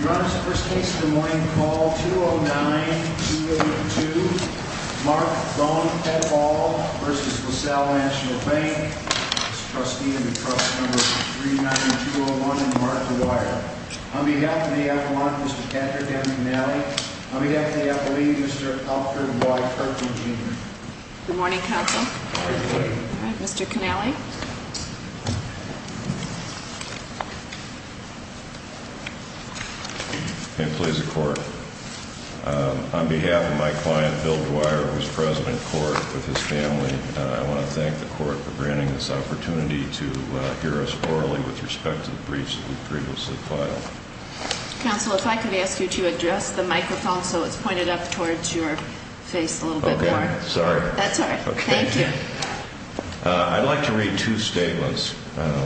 Your Honor, this is the first case of the morning. Call 209-282, Mark Thorne Ketthall v. Lasalle National Bank. This is trustee of the trust number 39201, Mark Dwyer. On behalf of the F.A.M.A., Mr. Patrick M. Canale. On behalf of the F.A.M.A., Mr. Alfred Y. Kirkland Jr. Good morning, counsel. Good morning. Mr. Canale. And please, the court. On behalf of my client, Bill Dwyer, who is president of court with his family, I want to thank the court for granting this opportunity to hear us orally with respect to the briefs that we've previously filed. Counsel, if I could ask you to address the microphone so it's pointed up towards your face a little bit more. Okay. Sorry. That's all right. Thank you. I'd like to read two statements. The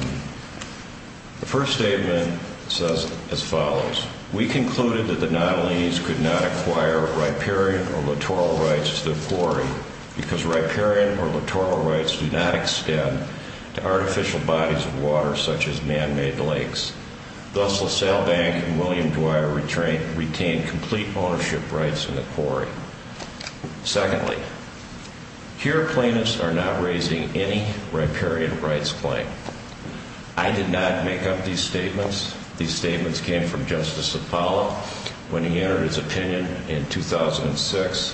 first statement says as follows. We concluded that the Nottolines could not acquire riparian or littoral rights to the quarry because riparian or littoral rights do not extend to artificial bodies of water such as man-made lakes. Thus, Lasalle Bank and William Dwyer retained complete ownership rights in the quarry. Secondly, here plaintiffs are not raising any riparian rights claim. I did not make up these statements. These statements came from Justice Apollo when he entered his opinion in 2006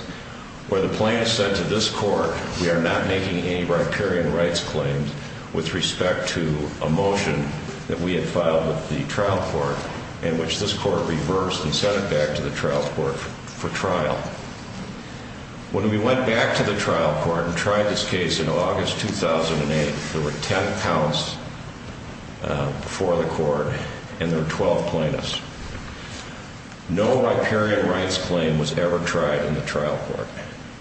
where the plaintiffs said to this court, we are not making any riparian rights claims with respect to a motion that we had filed with the trial court in which this court reversed and sent it back to the trial court for trial. When we went back to the trial court and tried this case in August 2008, there were 10 counts before the court and there were 12 plaintiffs. No riparian rights claim was ever tried in the trial court.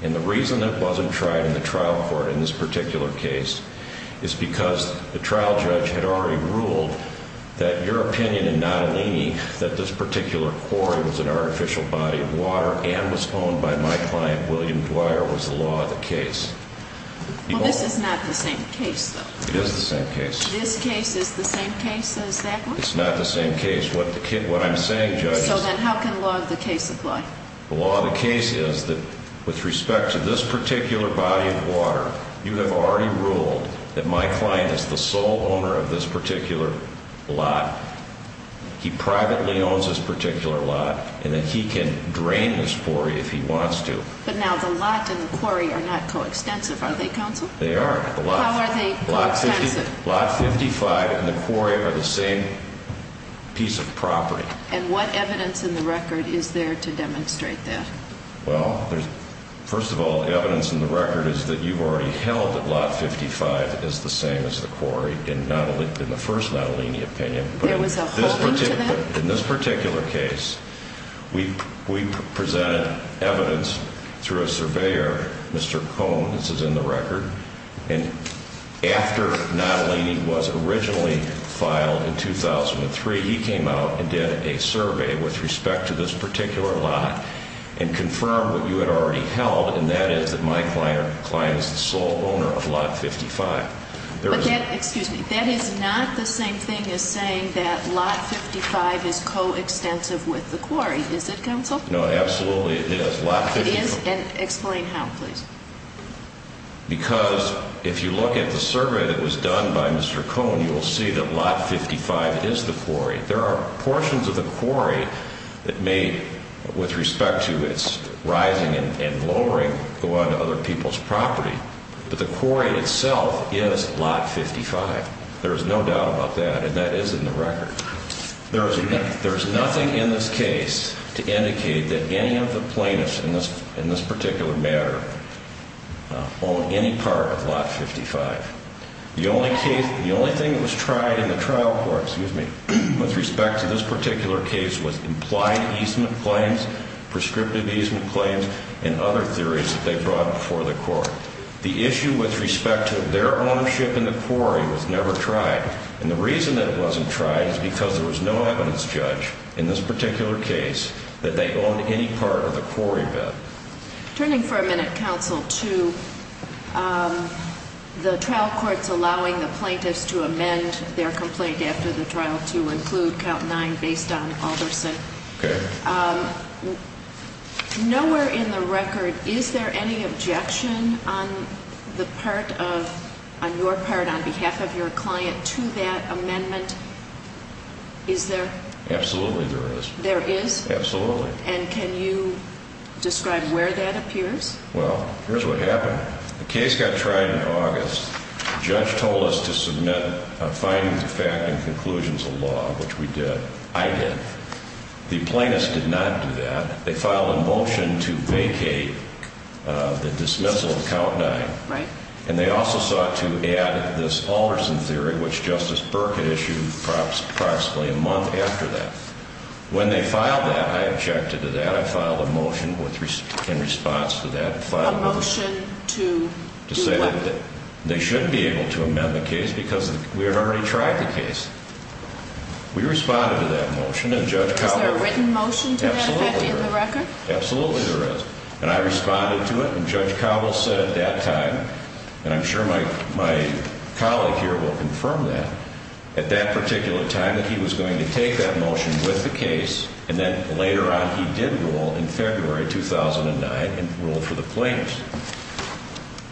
And the reason it wasn't tried in the trial court in this particular case is because the trial judge had already ruled that your opinion in Nottoline that this particular quarry was an artificial body of water and was owned by my client, William Dwyer, was the law of the case. Well, this is not the same case, though. It is the same case. This case is the same case as that one? It's not the same case. What I'm saying, Judge, is… So then how can law of the case apply? The law of the case is that with respect to this particular body of water, you have already ruled that my client is the sole owner of this particular lot. He privately owns this particular lot and that he can drain this quarry if he wants to. But now the lot and the quarry are not coextensive, are they, counsel? They are. How are they coextensive? Lot 55 and the quarry are the same piece of property. And what evidence in the record is there to demonstrate that? Well, first of all, evidence in the record is that you've already held that lot 55 is the same as the quarry in the first Nottoline opinion. There was a holding to that? In this particular case, we presented evidence through a surveyor, Mr. Cohn. This is in the record. And after Nottoline was originally filed in 2003, he came out and did a survey with respect to this particular lot and confirmed what you had already held, and that is that my client is the sole owner of lot 55. Excuse me. That is not the same thing as saying that lot 55 is coextensive with the quarry, is it, counsel? No, absolutely it is. It is? And explain how, please. Because if you look at the survey that was done by Mr. Cohn, you will see that lot 55 is the quarry. There are portions of the quarry that may, with respect to its rising and lowering, go on to other people's property. But the quarry itself is lot 55. There is no doubt about that, and that is in the record. There is nothing in this case to indicate that any of the plaintiffs in this particular matter own any part of lot 55. The only thing that was tried in the trial court with respect to this particular case was implied easement claims, prescriptive easement claims, and other theories that they brought before the court. The issue with respect to their ownership in the quarry was never tried. And the reason that it wasn't tried is because there was no evidence, Judge, in this particular case that they owned any part of the quarry bed. Turning for a minute, Counsel, to the trial courts allowing the plaintiffs to amend their complaint after the trial to include count 9 based on Alderson. Okay. Nowhere in the record is there any objection on the part of, on your part, on behalf of your client to that amendment. Is there? Absolutely there is. There is? Absolutely. And can you describe where that appears? Well, here's what happened. The case got tried in August. The judge told us to submit findings of fact and conclusions of law, which we did. I did. The plaintiffs did not do that. They filed a motion to vacate the dismissal of count 9. Right. And they also sought to add this Alderson theory, which Justice Burke had issued approximately a month after that. When they filed that, I objected to that. I filed a motion in response to that. A motion to do what? To say that they shouldn't be able to amend the case because we had already tried the case. We responded to that motion and Judge Cowbell... Is there a written motion to that effect in the record? Absolutely there is. Absolutely there is. And I responded to it and Judge Cowbell said at that time, and I'm sure my colleague here will confirm that, at that particular time that he was going to take that motion with the case and then later on he did rule in February 2009 and ruled for the plaintiffs.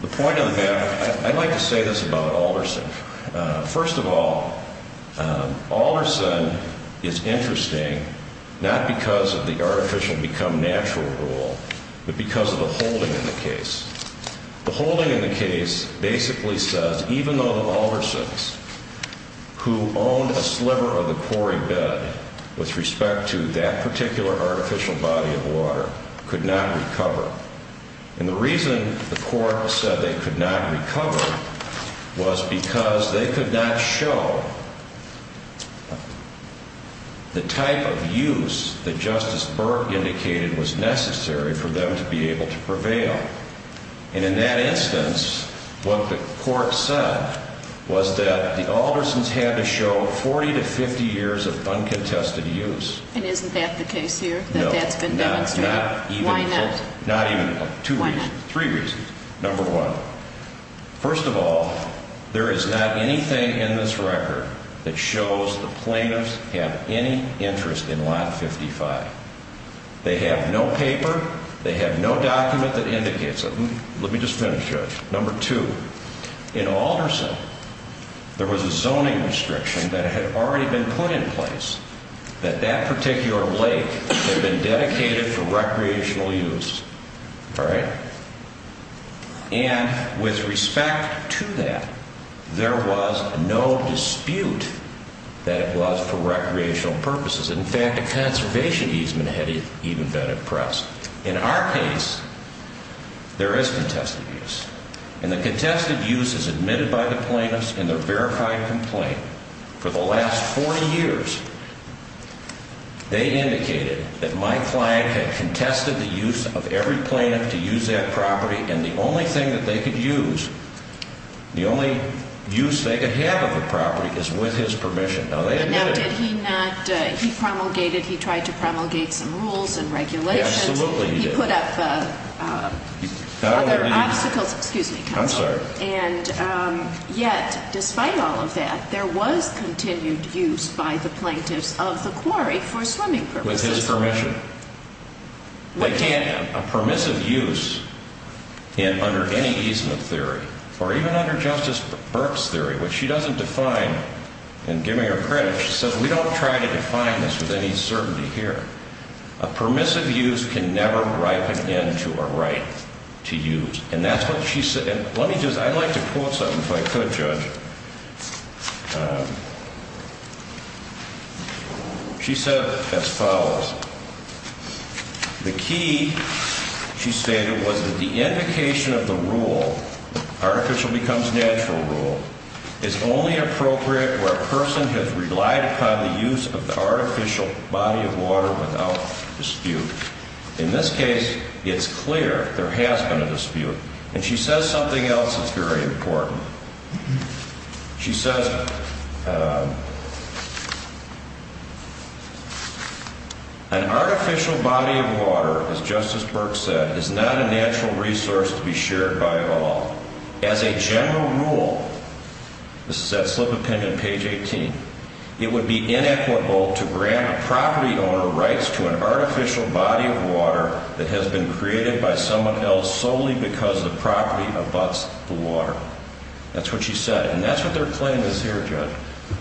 The point of the matter, I'd like to say this about Alderson. First of all, Alderson is interesting not because of the artificial become natural rule, but because of the holding in the case. The holding in the case basically says even though the Aldersons, who owned a sliver of the quarry bed with respect to that particular artificial body of water, could not recover. And the reason the court said they could not recover was because they could not show the type of use that Justice Burke indicated was necessary for them to be able to prevail. And in that instance, what the court said was that the Aldersons had to show 40 to 50 years of uncontested use. And isn't that the case here? No. Why not? Two reasons. Three reasons. Number one, first of all, there is not anything in this record that shows the plaintiffs have any interest in lot 55. They have no paper. They have no document that indicates it. Let me just finish, Judge. Number two, in Alderson, there was a zoning restriction that had already been put in place that that particular lake had been dedicated for recreational use. All right. And with respect to that, there was no dispute that it was for recreational purposes. In fact, a conservation easement had even been oppressed. In our case, there is contested use. And the contested use is admitted by the plaintiffs in their verified complaint. For the last 40 years, they indicated that my client had contested the use of every plaintiff to use that property. And the only thing that they could use, the only use they could have of the property is with his permission. And now did he not, he promulgated, he tried to promulgate some rules and regulations. Absolutely he did. He put up other obstacles. Excuse me, counsel. I'm sorry. And yet, despite all of that, there was continued use by the plaintiffs of the quarry for swimming purposes. With his permission. They can't have a permissive use under any easement theory or even under Justice Burke's theory, which she doesn't define. And giving her credit, she says, we don't try to define this with any certainty here. A permissive use can never ripen into a right to use. And that's what she said. Let me just, I'd like to quote something if I could, Judge. She said as follows. The key, she stated, was that the indication of the rule, artificial becomes natural rule, is only appropriate where a person has relied upon the use of the artificial body of water without dispute. In this case, it's clear there has been a dispute. And she says something else is very important. She says, an artificial body of water, as Justice Burke said, is not a natural resource to be shared by all. As a general rule, this is that slip of pen on page 18, it would be inequitable to grant a property owner rights to an artificial body of water that has been created by someone else solely because the property abuts the water. That's what she said. And that's what their claim is here, Judge.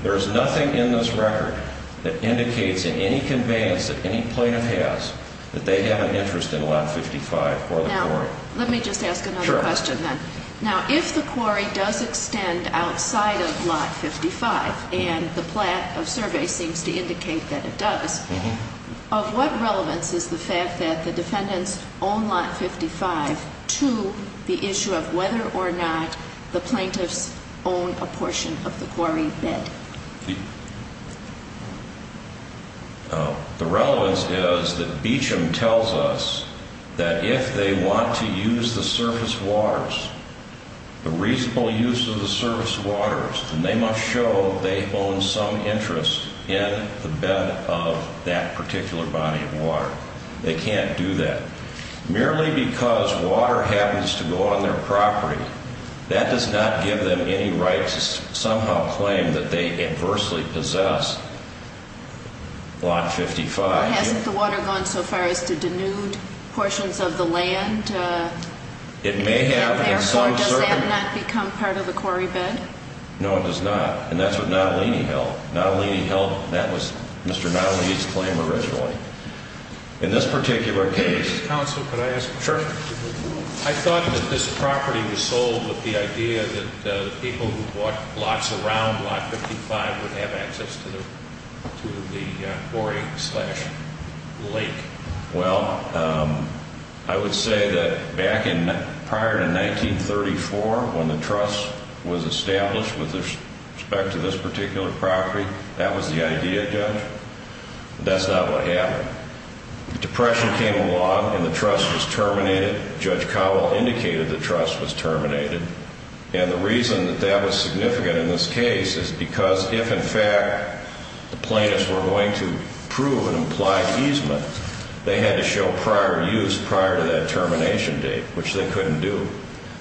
There is nothing in this record that indicates in any conveyance that any plaintiff has that they have an interest in Lot 55 or the quarry. Now, let me just ask another question then. Sure. Now, if the quarry does extend outside of Lot 55, and the survey seems to indicate that it does, of what relevance is the fact that the defendants own Lot 55 to the issue of whether or not the plaintiffs own a portion of the quarry bed? The relevance is that Beecham tells us that if they want to use the surface waters, the reasonable use of the surface waters, then they must show they own some interest in the bed of that particular body of water. They can't do that. Merely because water happens to go on their property, that does not give them any right to somehow claim that they adversely possess Lot 55. Hasn't the water gone so far as to denude portions of the land? It may have. And therefore, does that not become part of the quarry bed? No, it does not. And that's what Nottolini held. Nottolini held that was Mr. Nottolini's claim originally. In this particular case, Counsel, could I ask a question? Sure. I thought that this property was sold with the idea that people who bought lots around Lot 55 would have access to the quarry slash lake. Well, I would say that prior to 1934, when the trust was established with respect to this particular property, that was the idea, Judge. That's not what happened. The Depression came along and the trust was terminated. Judge Cowell indicated the trust was terminated. And the reason that that was significant in this case is because if, in fact, the plaintiffs were going to prove an implied easement, they had to show prior use prior to that termination date, which they couldn't do.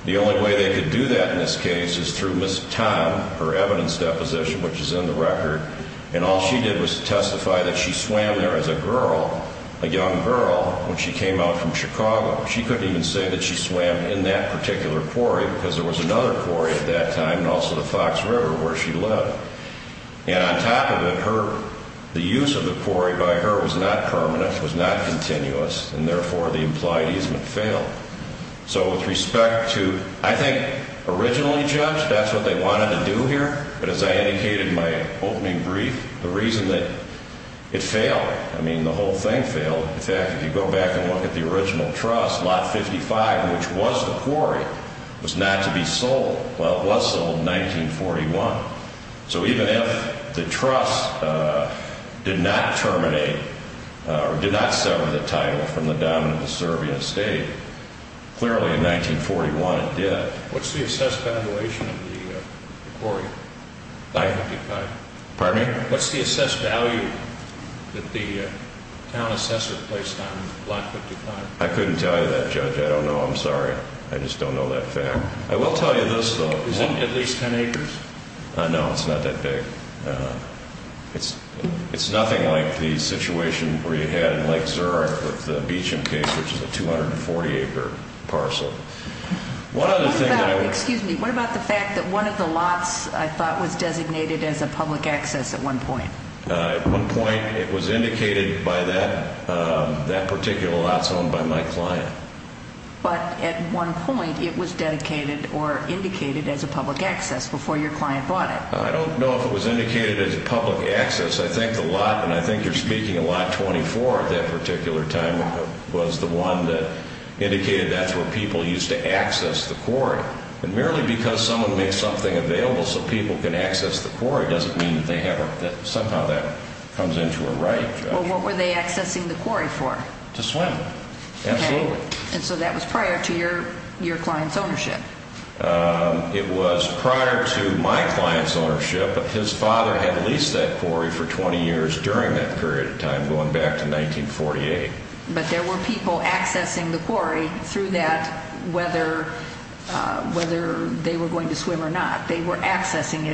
The only way they could do that in this case is through Ms. Tom, her evidence deposition, which is in the record. And all she did was testify that she swam there as a girl, a young girl, when she came out from Chicago. She couldn't even say that she swam in that particular quarry because there was another quarry at that time and also the Fox River where she lived. And on top of it, her, the use of the quarry by her was not permanent, was not continuous, and therefore the implied easement failed. So with respect to, I think, originally, Judge, that's what they wanted to do here. But as I indicated in my opening brief, the reason that it failed, I mean, the whole thing failed. In fact, if you go back and look at the original trust, lot 55, which was the quarry, was not to be sold. Well, it was sold in 1941. So even if the trust did not terminate or did not sever the title from the down of the Serbian estate, clearly in 1941 it did. What's the assessed valuation of the quarry, lot 55? Pardon me? What's the assessed value that the town assessor placed on lot 55? I couldn't tell you that, Judge. I don't know. I'm sorry. I just don't know that fact. I will tell you this, though. Isn't it at least 10 acres? No, it's not that big. It's nothing like the situation where you had in Lake Zurich with the Beecham case, which is a 240-acre parcel. What about the fact that one of the lots, I thought, was designated as a public access at one point? At one point it was indicated by that particular lot zone by my client. But at one point it was dedicated or indicated as a public access before your client bought it. I don't know if it was indicated as a public access. I think the lot, and I think you're speaking of lot 24 at that particular time, was the one that indicated that's where people used to access the quarry. And merely because someone made something available so people can access the quarry doesn't mean that somehow that comes into a right, Judge. Well, what were they accessing the quarry for? To swim. Absolutely. And so that was prior to your client's ownership. It was prior to my client's ownership. His father had leased that quarry for 20 years during that period of time, going back to 1948. But there were people accessing the quarry through that, whether they were going to swim or not. They were accessing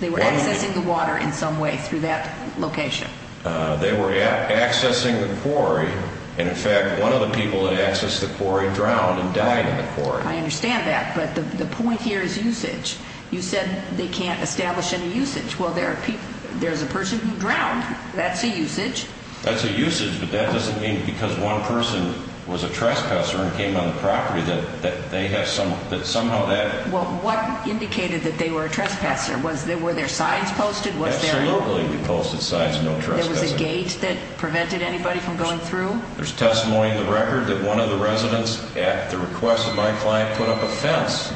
the water in some way through that location. They were accessing the quarry. And, in fact, one of the people that accessed the quarry drowned and died in the quarry. I understand that. But the point here is usage. You said they can't establish any usage. Well, there's a person who drowned. That's a usage. That's a usage, but that doesn't mean because one person was a trespasser and came on the property that they have some, that somehow that. Well, what indicated that they were a trespasser? Were there signs posted? Absolutely we posted signs, no trespassing. There was a gate that prevented anybody from going through? There's testimony in the record that one of the residents at the request of my client put up a fence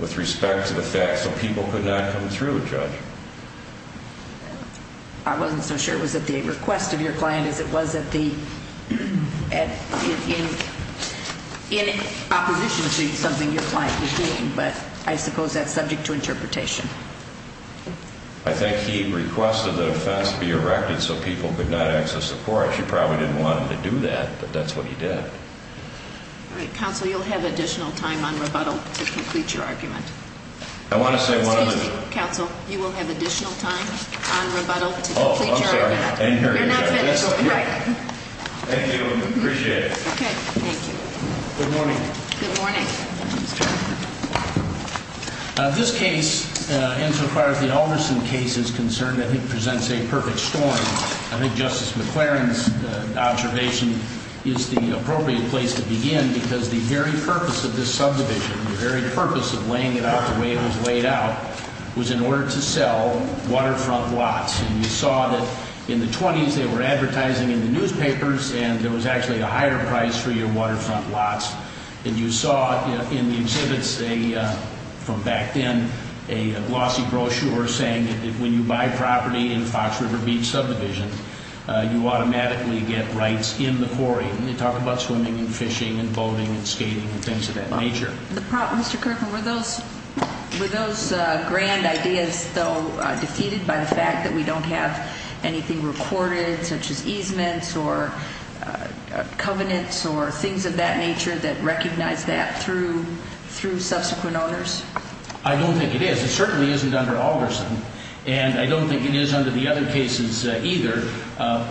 with respect to the fact that people could not come through, Judge. I wasn't so sure it was at the request of your client as it was at the, in opposition to something your client was doing. But I suppose that's subject to interpretation. I think he requested that a fence be erected so people could not access the quarry. She probably didn't want him to do that, but that's what he did. All right. Counsel, you'll have additional time on rebuttal to complete your argument. I want to say one other thing. Counsel, you will have additional time on rebuttal to complete your argument. Oh, I'm sorry. You're not finished. Thank you. Appreciate it. Okay. Thank you. Good morning. Good morning. This case, insofar as the Alderson case is concerned, I think presents a perfect story. I think Justice McClaren's observation is the appropriate place to begin because the very purpose of this subdivision, the very purpose of laying it out the way it was laid out, was in order to sell waterfront lots. And you saw that in the 20s they were advertising in the newspapers and there was actually a higher price for your waterfront lots. And you saw in the exhibits from back then a glossy brochure saying that when you buy property in the Fox River Beach subdivision, you automatically get rights in the quarry. And they talk about swimming and fishing and boating and skating and things of that nature. Mr. Kirkland, were those grand ideas, though, defeated by the fact that we don't have anything recorded such as easements or covenants or things of that nature that recognize that through subsequent owners? I don't think it is. It certainly isn't under Alderson. And I don't think it is under the other cases either.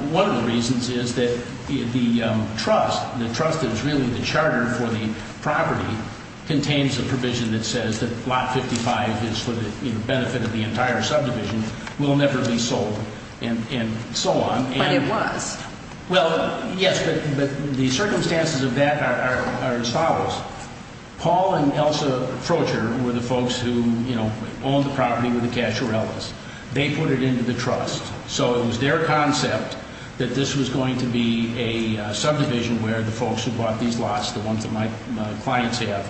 One of the reasons is that the trust, the trust is really the charter for the property, contains a provision that says that lot 55 is for the benefit of the entire subdivision, will never be sold and so on. But it was. Well, yes, but the circumstances of that are as follows. Paul and Elsa Frocher were the folks who owned the property with the Cacharellas. They put it into the trust. So it was their concept that this was going to be a subdivision where the folks who bought these lots, the ones that my clients have,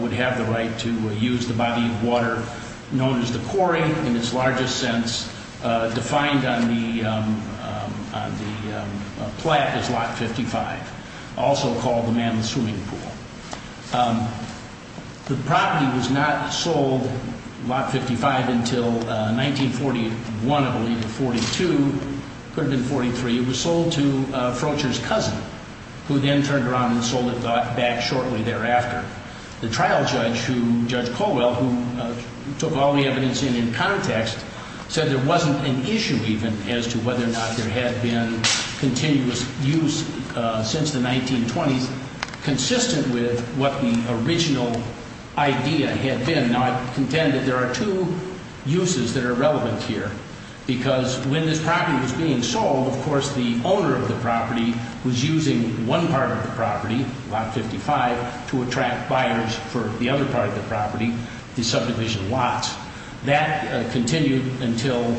would have the right to use the body of water known as the quarry in its largest sense, defined on the plaque as lot 55, also called the manless swimming pool. The property was not sold, lot 55, until 1941, I believe, or 42, could have been 43. It was sold to Frocher's cousin, who then turned around and sold it back shortly thereafter. The trial judge who, Judge Colwell, who took all the evidence in in context, said there wasn't an issue even as to whether or not there had been continuous use since the 1920s consistent with what the original idea had been. Now, I contend that there are two uses that are relevant here, because when this property was being sold, of course, the owner of the property was using one part of the property, lot 55, to attract buyers for the other part of the property, the subdivision lots. That continued until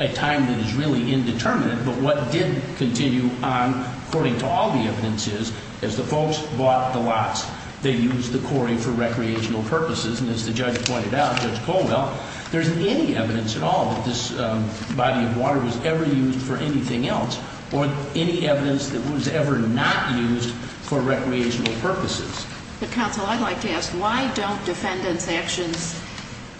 a time that is really indeterminate. But what did continue on, according to all the evidences, is the folks bought the lots. They used the quarry for recreational purposes. And as the judge pointed out, Judge Colwell, there isn't any evidence at all that this body of water was ever used for anything else, or any evidence that it was ever not used for recreational purposes. But, Counsel, I'd like to ask, why don't defendants' actions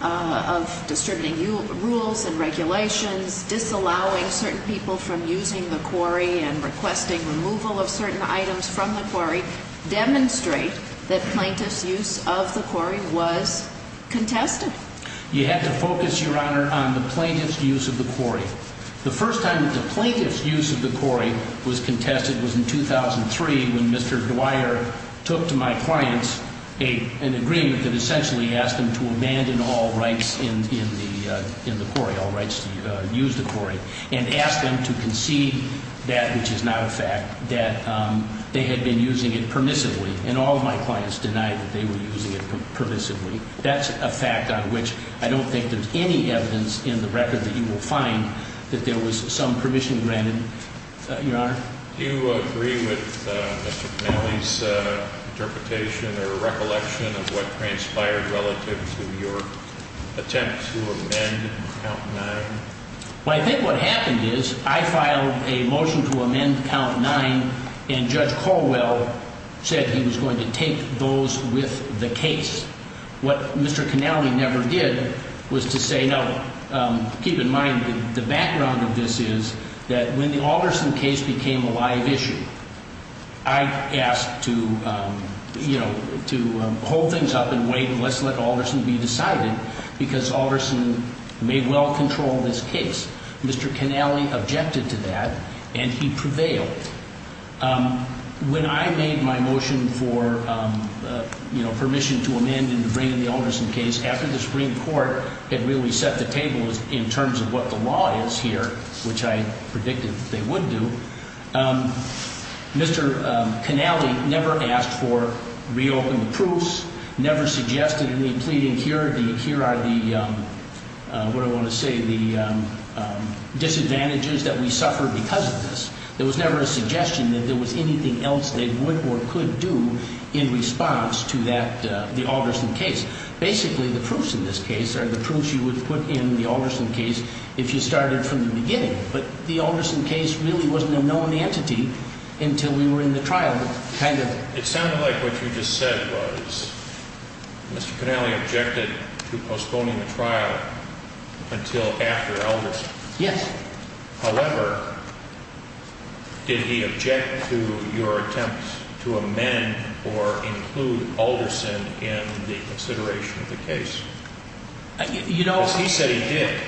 of distributing rules and regulations, disallowing certain people from using the quarry, and requesting removal of certain items from the quarry, demonstrate that plaintiff's use of the quarry was contested? You have to focus, Your Honor, on the plaintiff's use of the quarry. The first time that the plaintiff's use of the quarry was contested was in 2003, when Mr. Dwyer took to my clients an agreement that essentially asked them to abandon all rights in the quarry, all rights to use the quarry, and asked them to concede that, which is not a fact, that they had been using it permissively. And all of my clients denied that they were using it permissively. That's a fact on which I don't think there's any evidence in the record that you will find that there was some permission granted, Your Honor. Do you agree with Mr. Connelly's interpretation or recollection of what transpired relative to your attempt to amend Count 9? Well, I think what happened is I filed a motion to amend Count 9, and Judge Colwell said he was going to take those with the case. What Mr. Connelly never did was to say, no, keep in mind the background of this is that when the Alderson case became a live issue, I asked to, you know, to hold things up and wait and let's let Alderson be decided because Alderson may well control this case. Mr. Connelly objected to that, and he prevailed. When I made my motion for, you know, permission to amend and to bring in the Alderson case after the Supreme Court had really set the table in terms of what the law is here, which I predicted they would do, Mr. Connelly never asked for reopened proofs, never suggested any pleading, here are the, what do I want to say, the disadvantages that we suffer because of this. There was never a suggestion that there was anything else they would or could do in response to that, the Alderson case. Basically, the proofs in this case are the proofs you would put in the Alderson case if you started from the beginning. But the Alderson case really wasn't a known entity until we were in the trial, kind of. It sounded like what you just said was Mr. Connelly objected to postponing the trial until after Alderson. Yes. However, did he object to your attempt to amend or include Alderson in the consideration of the case? You know. Because he said he did.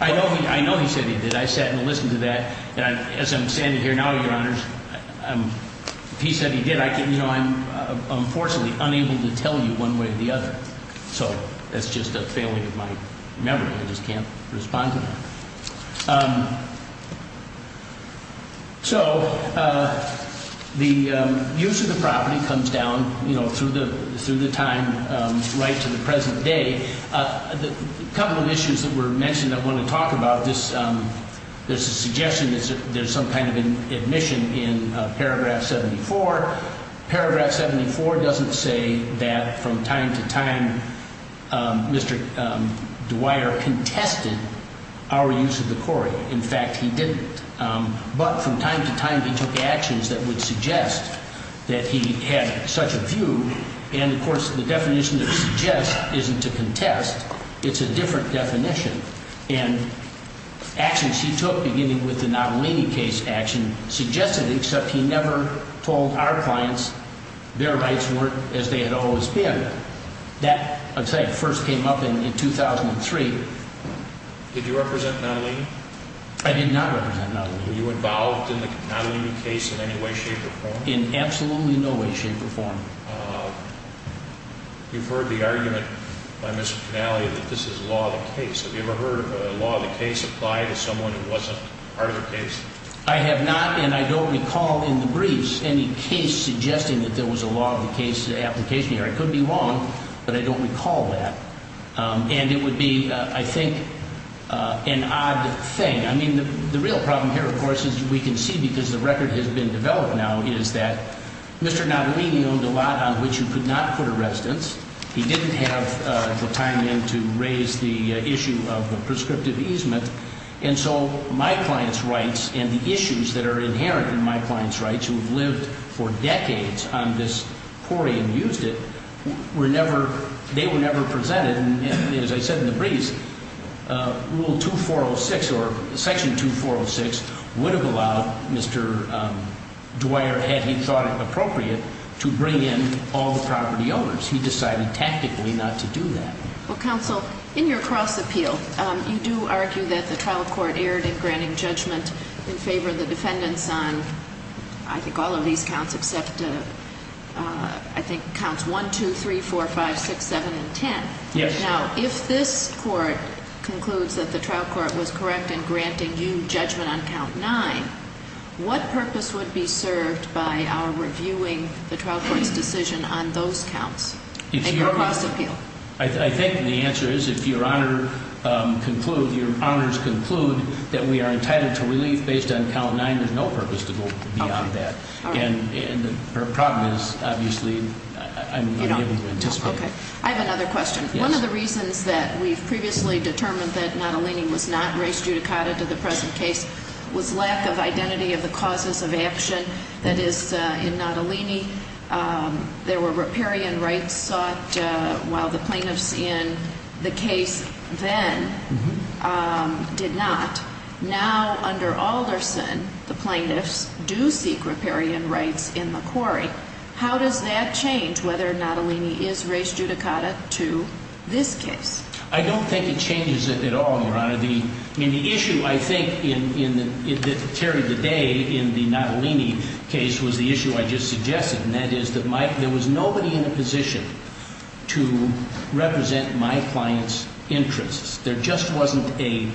I know he said he did. I sat and listened to that. And as I'm standing here now, Your Honors, he said he did. You know, I'm unfortunately unable to tell you one way or the other. So that's just a failing of my memory. I just can't respond to that. So the use of the property comes down, you know, through the time right to the present day. A couple of issues that were mentioned I want to talk about. There's a suggestion that there's some kind of admission in Paragraph 74. Paragraph 74 doesn't say that from time to time Mr. Dwyer contested our use of the quarry. In fact, he didn't. But from time to time he took actions that would suggest that he had such a view. And, of course, the definition of suggest isn't to contest. It's a different definition. And actions he took, beginning with the Natalini case action, suggested except he never told our clients their rights weren't as they had always been. That, I'd say, first came up in 2003. Did you represent Natalini? I did not represent Natalini. Were you involved in the Natalini case in any way, shape, or form? In absolutely no way, shape, or form. You've heard the argument by Mr. Finale that this is law of the case. Have you ever heard law of the case apply to someone who wasn't part of the case? I have not, and I don't recall in the briefs any case suggesting that there was a law of the case application here. I could be wrong, but I don't recall that. And it would be, I think, an odd thing. I mean, the real problem here, of course, as we can see because the record has been developed now, is that Mr. Natalini owned a lot on which he could not put a residence. He didn't have the time then to raise the issue of the prescriptive easement. And so my client's rights and the issues that are inherent in my client's rights, who have lived for decades on this quarry and used it, were never, they were never presented. And as I said in the briefs, Rule 2406 or Section 2406 would have allowed Mr. Dwyer, had he thought it appropriate, to bring in all the property owners. He decided tactically not to do that. Well, counsel, in your cross-appeal, you do argue that the trial court erred in granting judgment in favor of the defendants on, I think, all of these counts except, I think, counts 1, 2, 3, 4, 5, 6, 7, and 10. Yes. Now, if this court concludes that the trial court was correct in granting you judgment on count 9, what purpose would be served by our reviewing the trial court's decision on those counts in your cross-appeal? I think the answer is if your Honor concludes, your honors conclude, that we are entitled to relief based on count 9, there's no purpose to go beyond that. Okay. And her problem is, obviously, I'm unable to anticipate. Okay. I have another question. Yes. One of the reasons that we've previously determined that Natalini was not raised judicata to the present case was lack of identity of the causes of action that is in Natalini. There were riparian rights sought while the plaintiffs in the case then did not. Now, under Alderson, the plaintiffs do seek riparian rights in the quarry. How does that change whether Natalini is raised judicata to this case? I don't think it changes it at all, your Honor. The issue, I think, that carried the day in the Natalini case was the issue I just suggested, and that is that there was nobody in a position to represent my client's interests. There just wasn't a situation.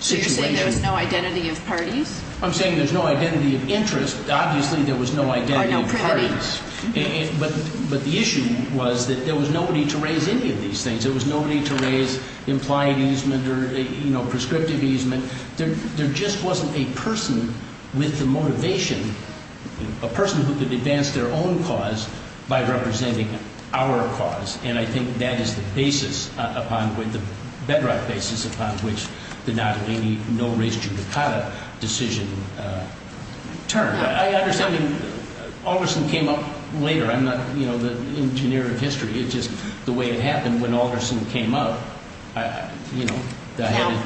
So you're saying there was no identity of parties? I'm saying there's no identity of interest. Obviously, there was no identity of parties. Or no privity. But the issue was that there was nobody to raise any of these things. There was nobody to raise implied easement or prescriptive easement. There just wasn't a person with the motivation, a person who could advance their own cause by representing our cause. And I think that is the basis upon which the Bedrock basis upon which the Natalini no-raise-judicata decision turned. I understand Alderson came up later. I'm not the engineer of history. It's just the way it happened when Alderson came up. Now,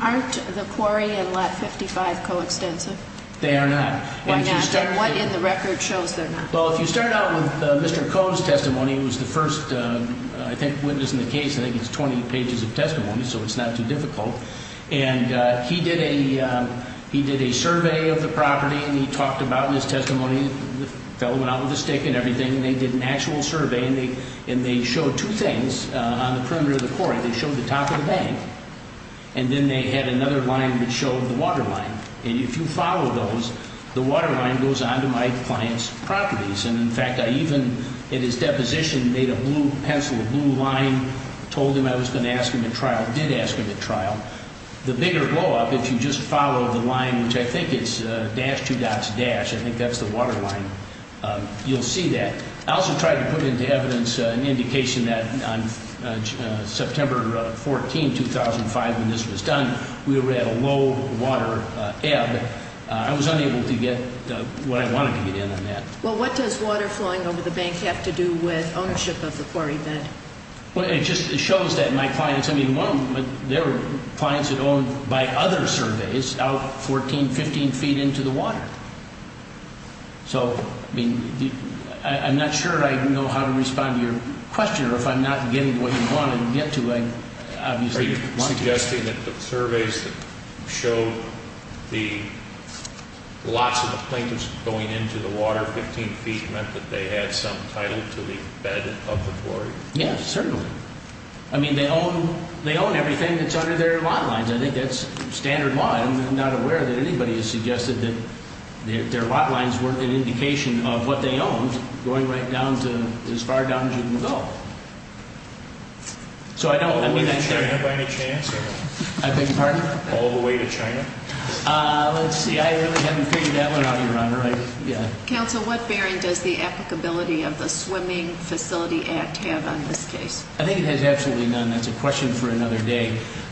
aren't the Quarry and Lot 55 coextensive? They are not. Why not? And what in the record shows they're not? Well, if you start out with Mr. Koh's testimony, who was the first, I think, witness in the case. I think it's 20 pages of testimony, so it's not too difficult. And he did a survey of the property, and he talked about his testimony. The fellow went out with a stick and everything. They did an actual survey, and they showed two things on the perimeter of the quarry. They showed the top of the bank, and then they had another line that showed the waterline. And if you follow those, the waterline goes on to my client's properties. And, in fact, I even, in his deposition, made a blue pencil, a blue line, told him I was going to ask him at trial, did ask him at trial. The bigger blowup, if you just follow the line, which I think is dash, two dots, dash, I think that's the waterline, you'll see that. I also tried to put into evidence an indication that on September 14, 2005, when this was done, we were at a low water ebb. I was unable to get what I wanted to get in on that. Well, what does water flowing over the bank have to do with ownership of the quarry bed? Well, it just shows that my clients, I mean, there were clients that owned, by other surveys, out 14, 15 feet into the water. So, I mean, I'm not sure I know how to respond to your question, or if I'm not getting what you wanted to get to, I obviously want to. Are you suggesting that the surveys that showed the, lots of the plaintiffs going into the water 15 feet meant that they had some title to the bed of the quarry? Yes, certainly. I mean, they own, they own everything that's under their lawn lines. I think that's standard law. I'm not aware that anybody has suggested that their lot lines weren't an indication of what they owned going right down to as far down as you can go. So, I don't, I mean, I can't. All the way to China, by any chance? I beg your pardon? All the way to China? Let's see, I really haven't figured that one out, Your Honor. Counsel, what bearing does the applicability of the Swimming Facility Act have on this case? I think it has absolutely none. That's a question for another day.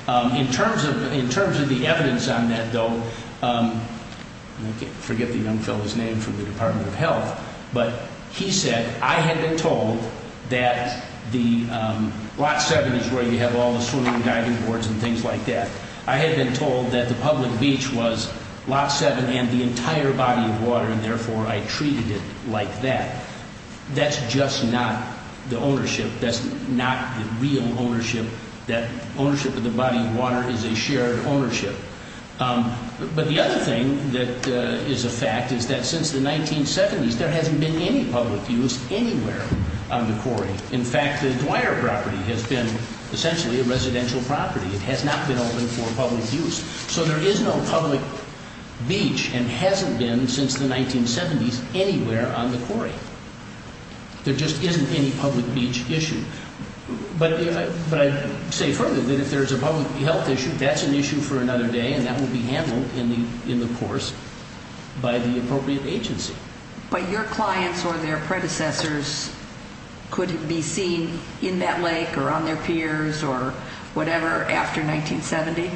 In terms of the evidence on that, though, I forget the young fellow's name from the Department of Health, but he said, I had been told that the lot seven is where you have all the swimming and diving boards and things like that. I had been told that the public beach was lot seven and the entire body of water, and, therefore, I treated it like that. That's just not the ownership. That's not the real ownership. That ownership of the body of water is a shared ownership. But the other thing that is a fact is that since the 1970s, there hasn't been any public use anywhere on the quarry. In fact, the Dwyer property has been essentially a residential property. It has not been open for public use. So there is no public beach and hasn't been since the 1970s anywhere on the quarry. There just isn't any public beach issue. But I say further that if there's a public health issue, that's an issue for another day, and that will be handled in the course by the appropriate agency. But your clients or their predecessors couldn't be seen in that lake or on their piers or whatever after 1970?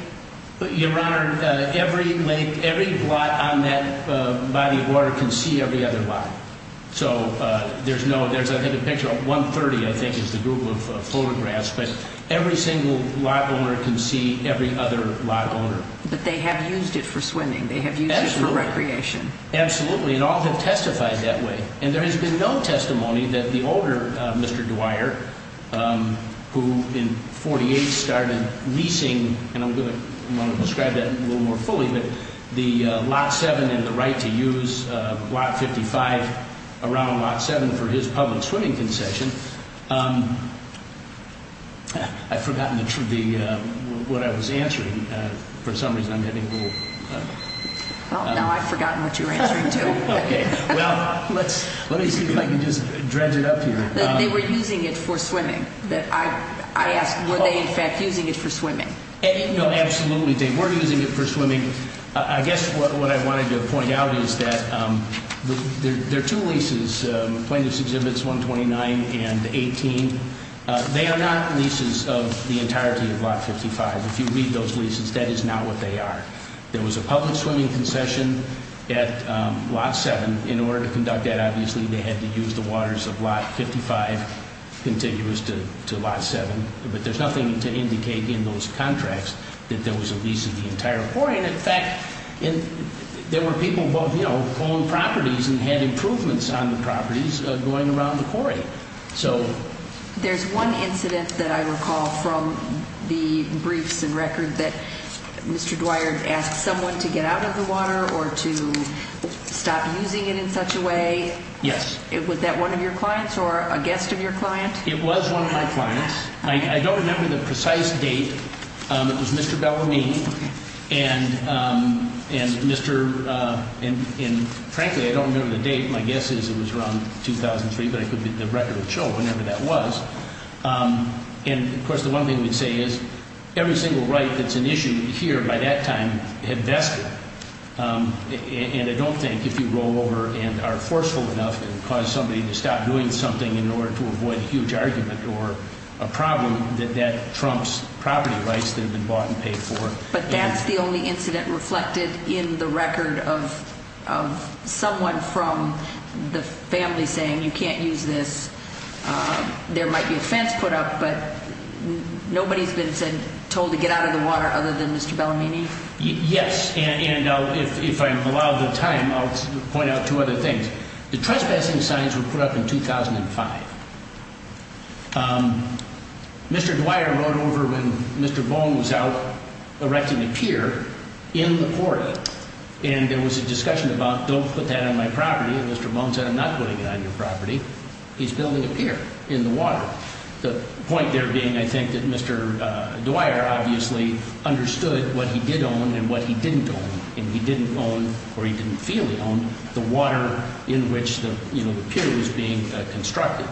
Your Honor, every lake, every lot on that body of water can see every other lot. So there's no – there's, I think, a picture of 130, I think, is the group of photographs. But every single lot owner can see every other lot owner. But they have used it for swimming. They have used it for recreation. Absolutely. And all have testified that way. And there has been no testimony that the older Mr. Dwyer, who in 1948 started leasing, and I'm going to describe that a little more fully, but the Lot 7 and the right to use Lot 55 around Lot 7 for his public swimming concession. I've forgotten what I was answering. For some reason I'm getting a little – Well, now I've forgotten what you were answering too. Okay. Well, let me see if I can just dredge it up here. They were using it for swimming. I asked, were they in fact using it for swimming? No, absolutely. They were using it for swimming. I guess what I wanted to point out is that there are two leases, Plaintiffs' Exhibits 129 and 18. They are not leases of the entirety of Lot 55. If you read those leases, that is not what they are. There was a public swimming concession at Lot 7. In order to conduct that, obviously, they had to use the waters of Lot 55 contiguous to Lot 7. But there's nothing to indicate in those contracts that there was a lease of the entire quarry. And, in fact, there were people who owned properties and had improvements on the properties going around the quarry. There's one incident that I recall from the briefs and record that Mr. Dwyer asked someone to get out of the water or to stop using it in such a way. Yes. Was that one of your clients or a guest of your client? It was one of my clients. I don't remember the precise date. It was Mr. Bellarmine and Mr. – and, frankly, I don't remember the date. My guess is it was around 2003, but the record will show whenever that was. And, of course, the one thing I would say is every single right that's an issue here by that time had vested. And I don't think if you roll over and are forceful enough and cause somebody to stop doing something in order to avoid a huge argument or a problem, that that trumps property rights that have been bought and paid for. But that's the only incident reflected in the record of someone from the family saying you can't use this. There might be offense put up, but nobody's been told to get out of the water other than Mr. Bellarmine? Yes. And if I'm allowed the time, I'll point out two other things. The trespassing signs were put up in 2005. Mr. Dwyer wrote over when Mr. Bohm was out erecting a pier in the quarry, and there was a discussion about don't put that on my property, and Mr. Bohm said I'm not putting it on your property. He's building a pier in the water. The point there being, I think, that Mr. Dwyer obviously understood what he did own and what he didn't own, and he didn't own or he didn't feel he owned the water in which the pier was being constructed.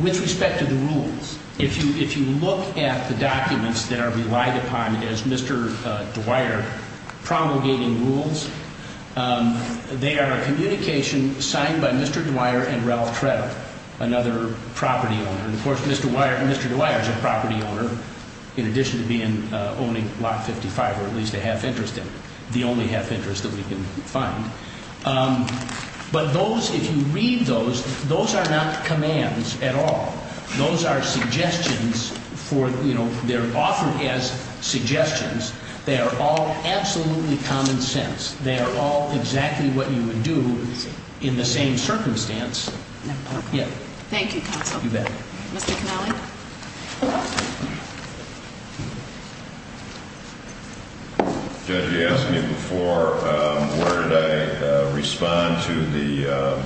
With respect to the rules, if you look at the documents that are relied upon as Mr. Dwyer promulgating rules, they are a communication signed by Mr. Dwyer and Ralph Tretto, another property owner. And of course, Mr. Dwyer is a property owner in addition to owning lot 55, or at least a half interest in it, the only half interest that we can find. But those, if you read those, those are not commands at all. Those are suggestions for, you know, they're offered as suggestions. They are all absolutely common sense. They are all exactly what you would do in the same circumstance. Thank you, counsel. I'll call you back. Mr. Connelly. Judge, you asked me before, where did I respond to the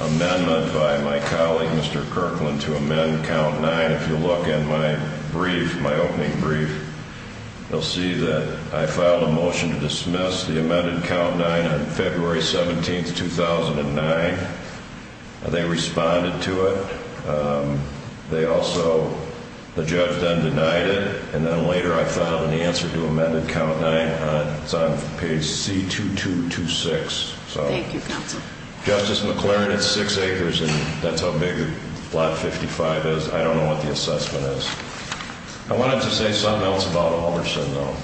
amendment by my colleague, Mr. Kirkland, to amend Count 9. If you look in my brief, my opening brief, you'll see that I filed a motion to dismiss the amended Count 9 on February 17, 2009. They responded to it. They also, the judge then denied it. And then later, I filed an answer to amended Count 9. It's on page C2226. Thank you, counsel. Justice McLaren, it's six acres, and that's how big lot 55 is. I don't know what the assessment is. I wanted to say something else about Almerson, though.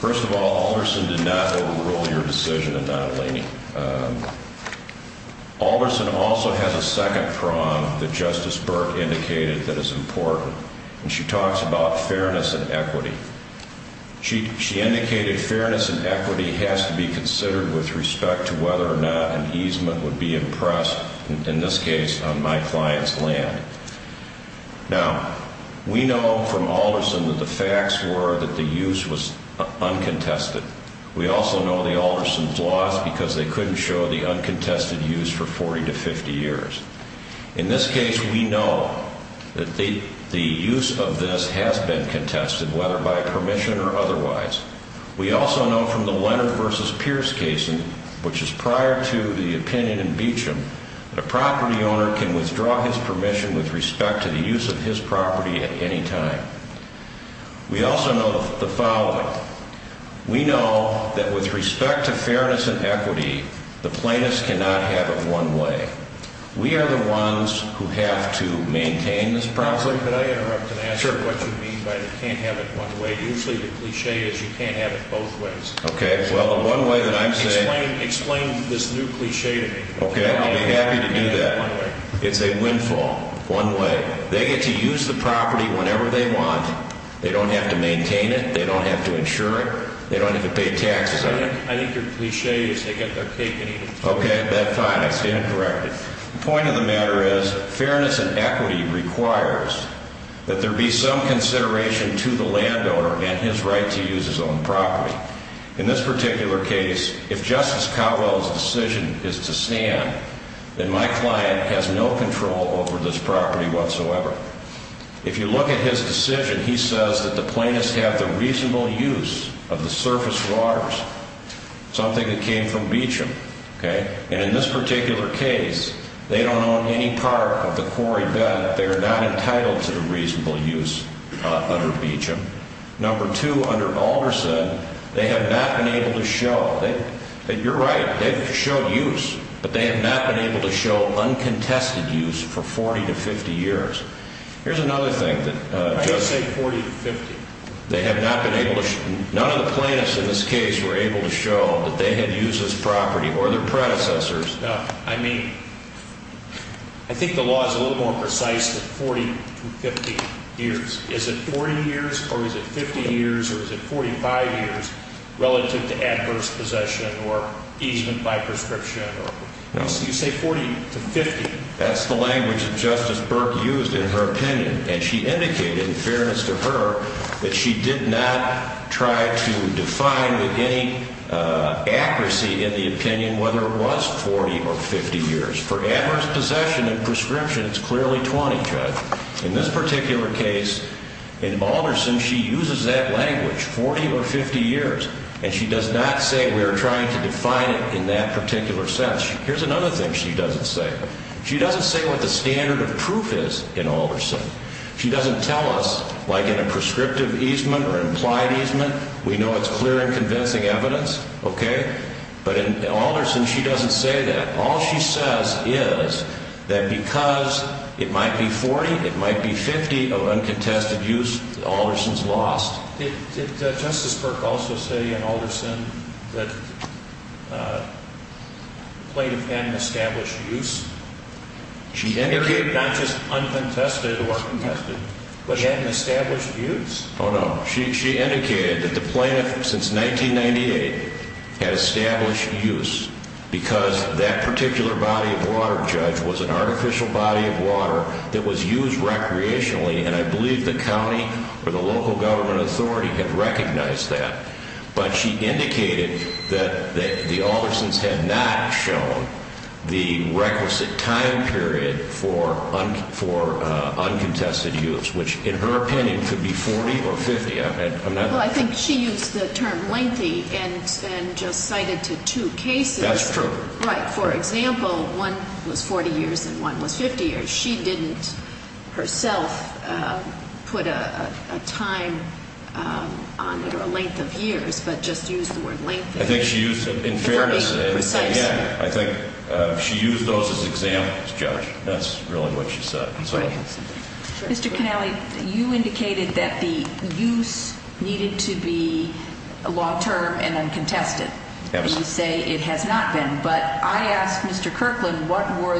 First of all, Almerson did not overrule your decision in Nottolini. Almerson also has a second prong that Justice Burke indicated that is important, and she talks about fairness and equity. She indicated fairness and equity has to be considered with respect to whether or not an easement would be impressed, in this case, on my client's land. Now, we know from Almerson that the facts were that the use was uncontested. We also know the Almersons' loss because they couldn't show the uncontested use for 40 to 50 years. In this case, we know that the use of this has been contested, whether by permission or otherwise. We also know from the Leonard v. Pierce case, which is prior to the opinion in Beauchamp, that a property owner can withdraw his permission with respect to the use of his property at any time. We also know the following. We know that with respect to fairness and equity, the plaintiffs cannot have it one way. We are the ones who have to maintain this property. Could I interrupt and ask what you mean by they can't have it one way? Usually the cliché is you can't have it both ways. Okay. Well, the one way that I'm saying – Explain this new cliché to me. Okay. I'll be happy to do that. It's a windfall, one way. They get to use the property whenever they want. They don't have to maintain it. They don't have to insure it. They don't have to pay taxes on it. I think your cliché is they get their cake and eat it. Okay. That's fine. I stand corrected. The point of the matter is fairness and equity requires that there be some consideration to the landowner and his right to use his own property. In this particular case, if Justice Cowell's decision is to stand, then my client has no control over this property whatsoever. If you look at his decision, he says that the plaintiffs have the reasonable use of the surface waters, something that came from Beecham. Okay. And in this particular case, they don't own any part of the quarry bed. They are not entitled to the reasonable use under Beecham. Number two, under Alderson, they have not been able to show – you're right. They've showed use, but they have not been able to show uncontested use for 40 to 50 years. Here's another thing that – I didn't say 40 to 50. They have not been able to – none of the plaintiffs in this case were able to show that they had used this property or their predecessors. No. I mean, I think the law is a little more precise than 40 to 50 years. Is it 40 years or is it 50 years or is it 45 years relative to adverse possession or easement by prescription? No. You say 40 to 50. That's the language that Justice Burke used in her opinion, and she indicated in fairness to her that she did not try to define with any accuracy in the opinion whether it was 40 or 50 years. For adverse possession and prescription, it's clearly 20, Judge. In this particular case, in Alderson, she uses that language, 40 or 50 years, and she does not say we are trying to define it in that particular sense. Here's another thing she doesn't say. She doesn't say what the standard of proof is in Alderson. She doesn't tell us, like in a prescriptive easement or implied easement, we know it's clear and convincing evidence, okay? But in Alderson, she doesn't say that. All she says is that because it might be 40, it might be 50 of uncontested use, Alderson's lost. Did Justice Burke also say in Alderson that plaintiff hadn't established use? Not just uncontested or contested, but hadn't established use? Oh, no. She indicated that the plaintiff, since 1998, had established use because that particular body of water, Judge, was an artificial body of water that was used recreationally, and I believe the county or the local government authority had recognized that. But she indicated that the Aldersons had not shown the requisite time period for uncontested use, which, in her opinion, could be 40 or 50. Well, I think she used the term lengthy and just cited to two cases. That's true. Right. For example, one was 40 years and one was 50 years. She didn't herself put a time on it or a length of years, but just used the word lengthy. I think she used it in fairness. To be precise. Again, I think she used those as examples, Judge. That's really what she said. Mr. Canale, you indicated that the use needed to be long-term and uncontested. Yes. I would actually say it has not been, but I asked Mr. Kirkland what were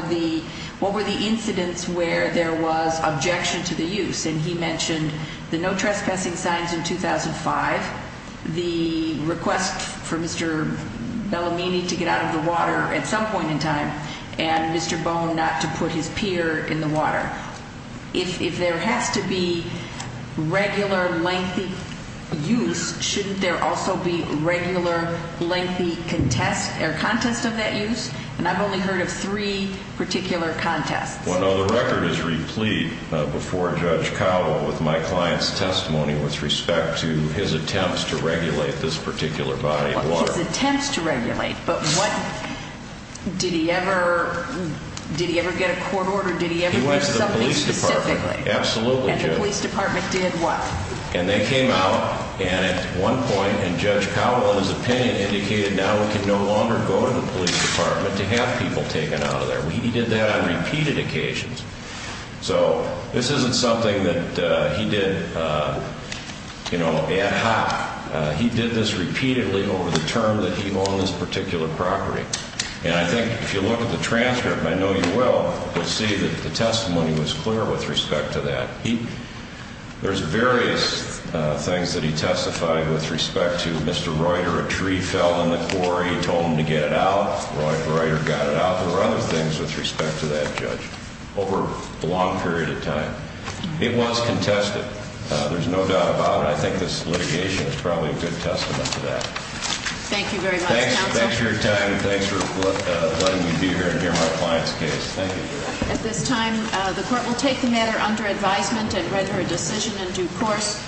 the incidents where there was objection to the use, and he mentioned the no trespassing signs in 2005, the request for Mr. Bellamini to get out of the water at some point in time, and Mr. Bone not to put his peer in the water. If there has to be regular lengthy use, shouldn't there also be regular lengthy contest of that use? And I've only heard of three particular contests. Well, no. The record is replete before Judge Cowell with my client's testimony with respect to his attempts to regulate this particular body of water. His attempts to regulate, but did he ever get a court order? He went to the police department. Absolutely. And the police department did what? And they came out, and at one point, and Judge Cowell, in his opinion, indicated now we can no longer go to the police department to have people taken out of there. He did that on repeated occasions. So this isn't something that he did, you know, ad hoc. He did this repeatedly over the term that he owned this particular property. And I think if you look at the transcript, and I know you will, you'll see that the testimony was clear with respect to that. There's various things that he testified with respect to. Mr. Reuter, a tree fell in the quarry. He told him to get it out. Reuter got it out. There were other things with respect to that, Judge, over a long period of time. It was contested. There's no doubt about it. I think this litigation is probably a good testament to that. Thank you very much, Counsel. Thanks for your time, and thanks for letting me be here and hear my client's case. Thank you. At this time, the Court will take the matter under advisement and render a decision in due course.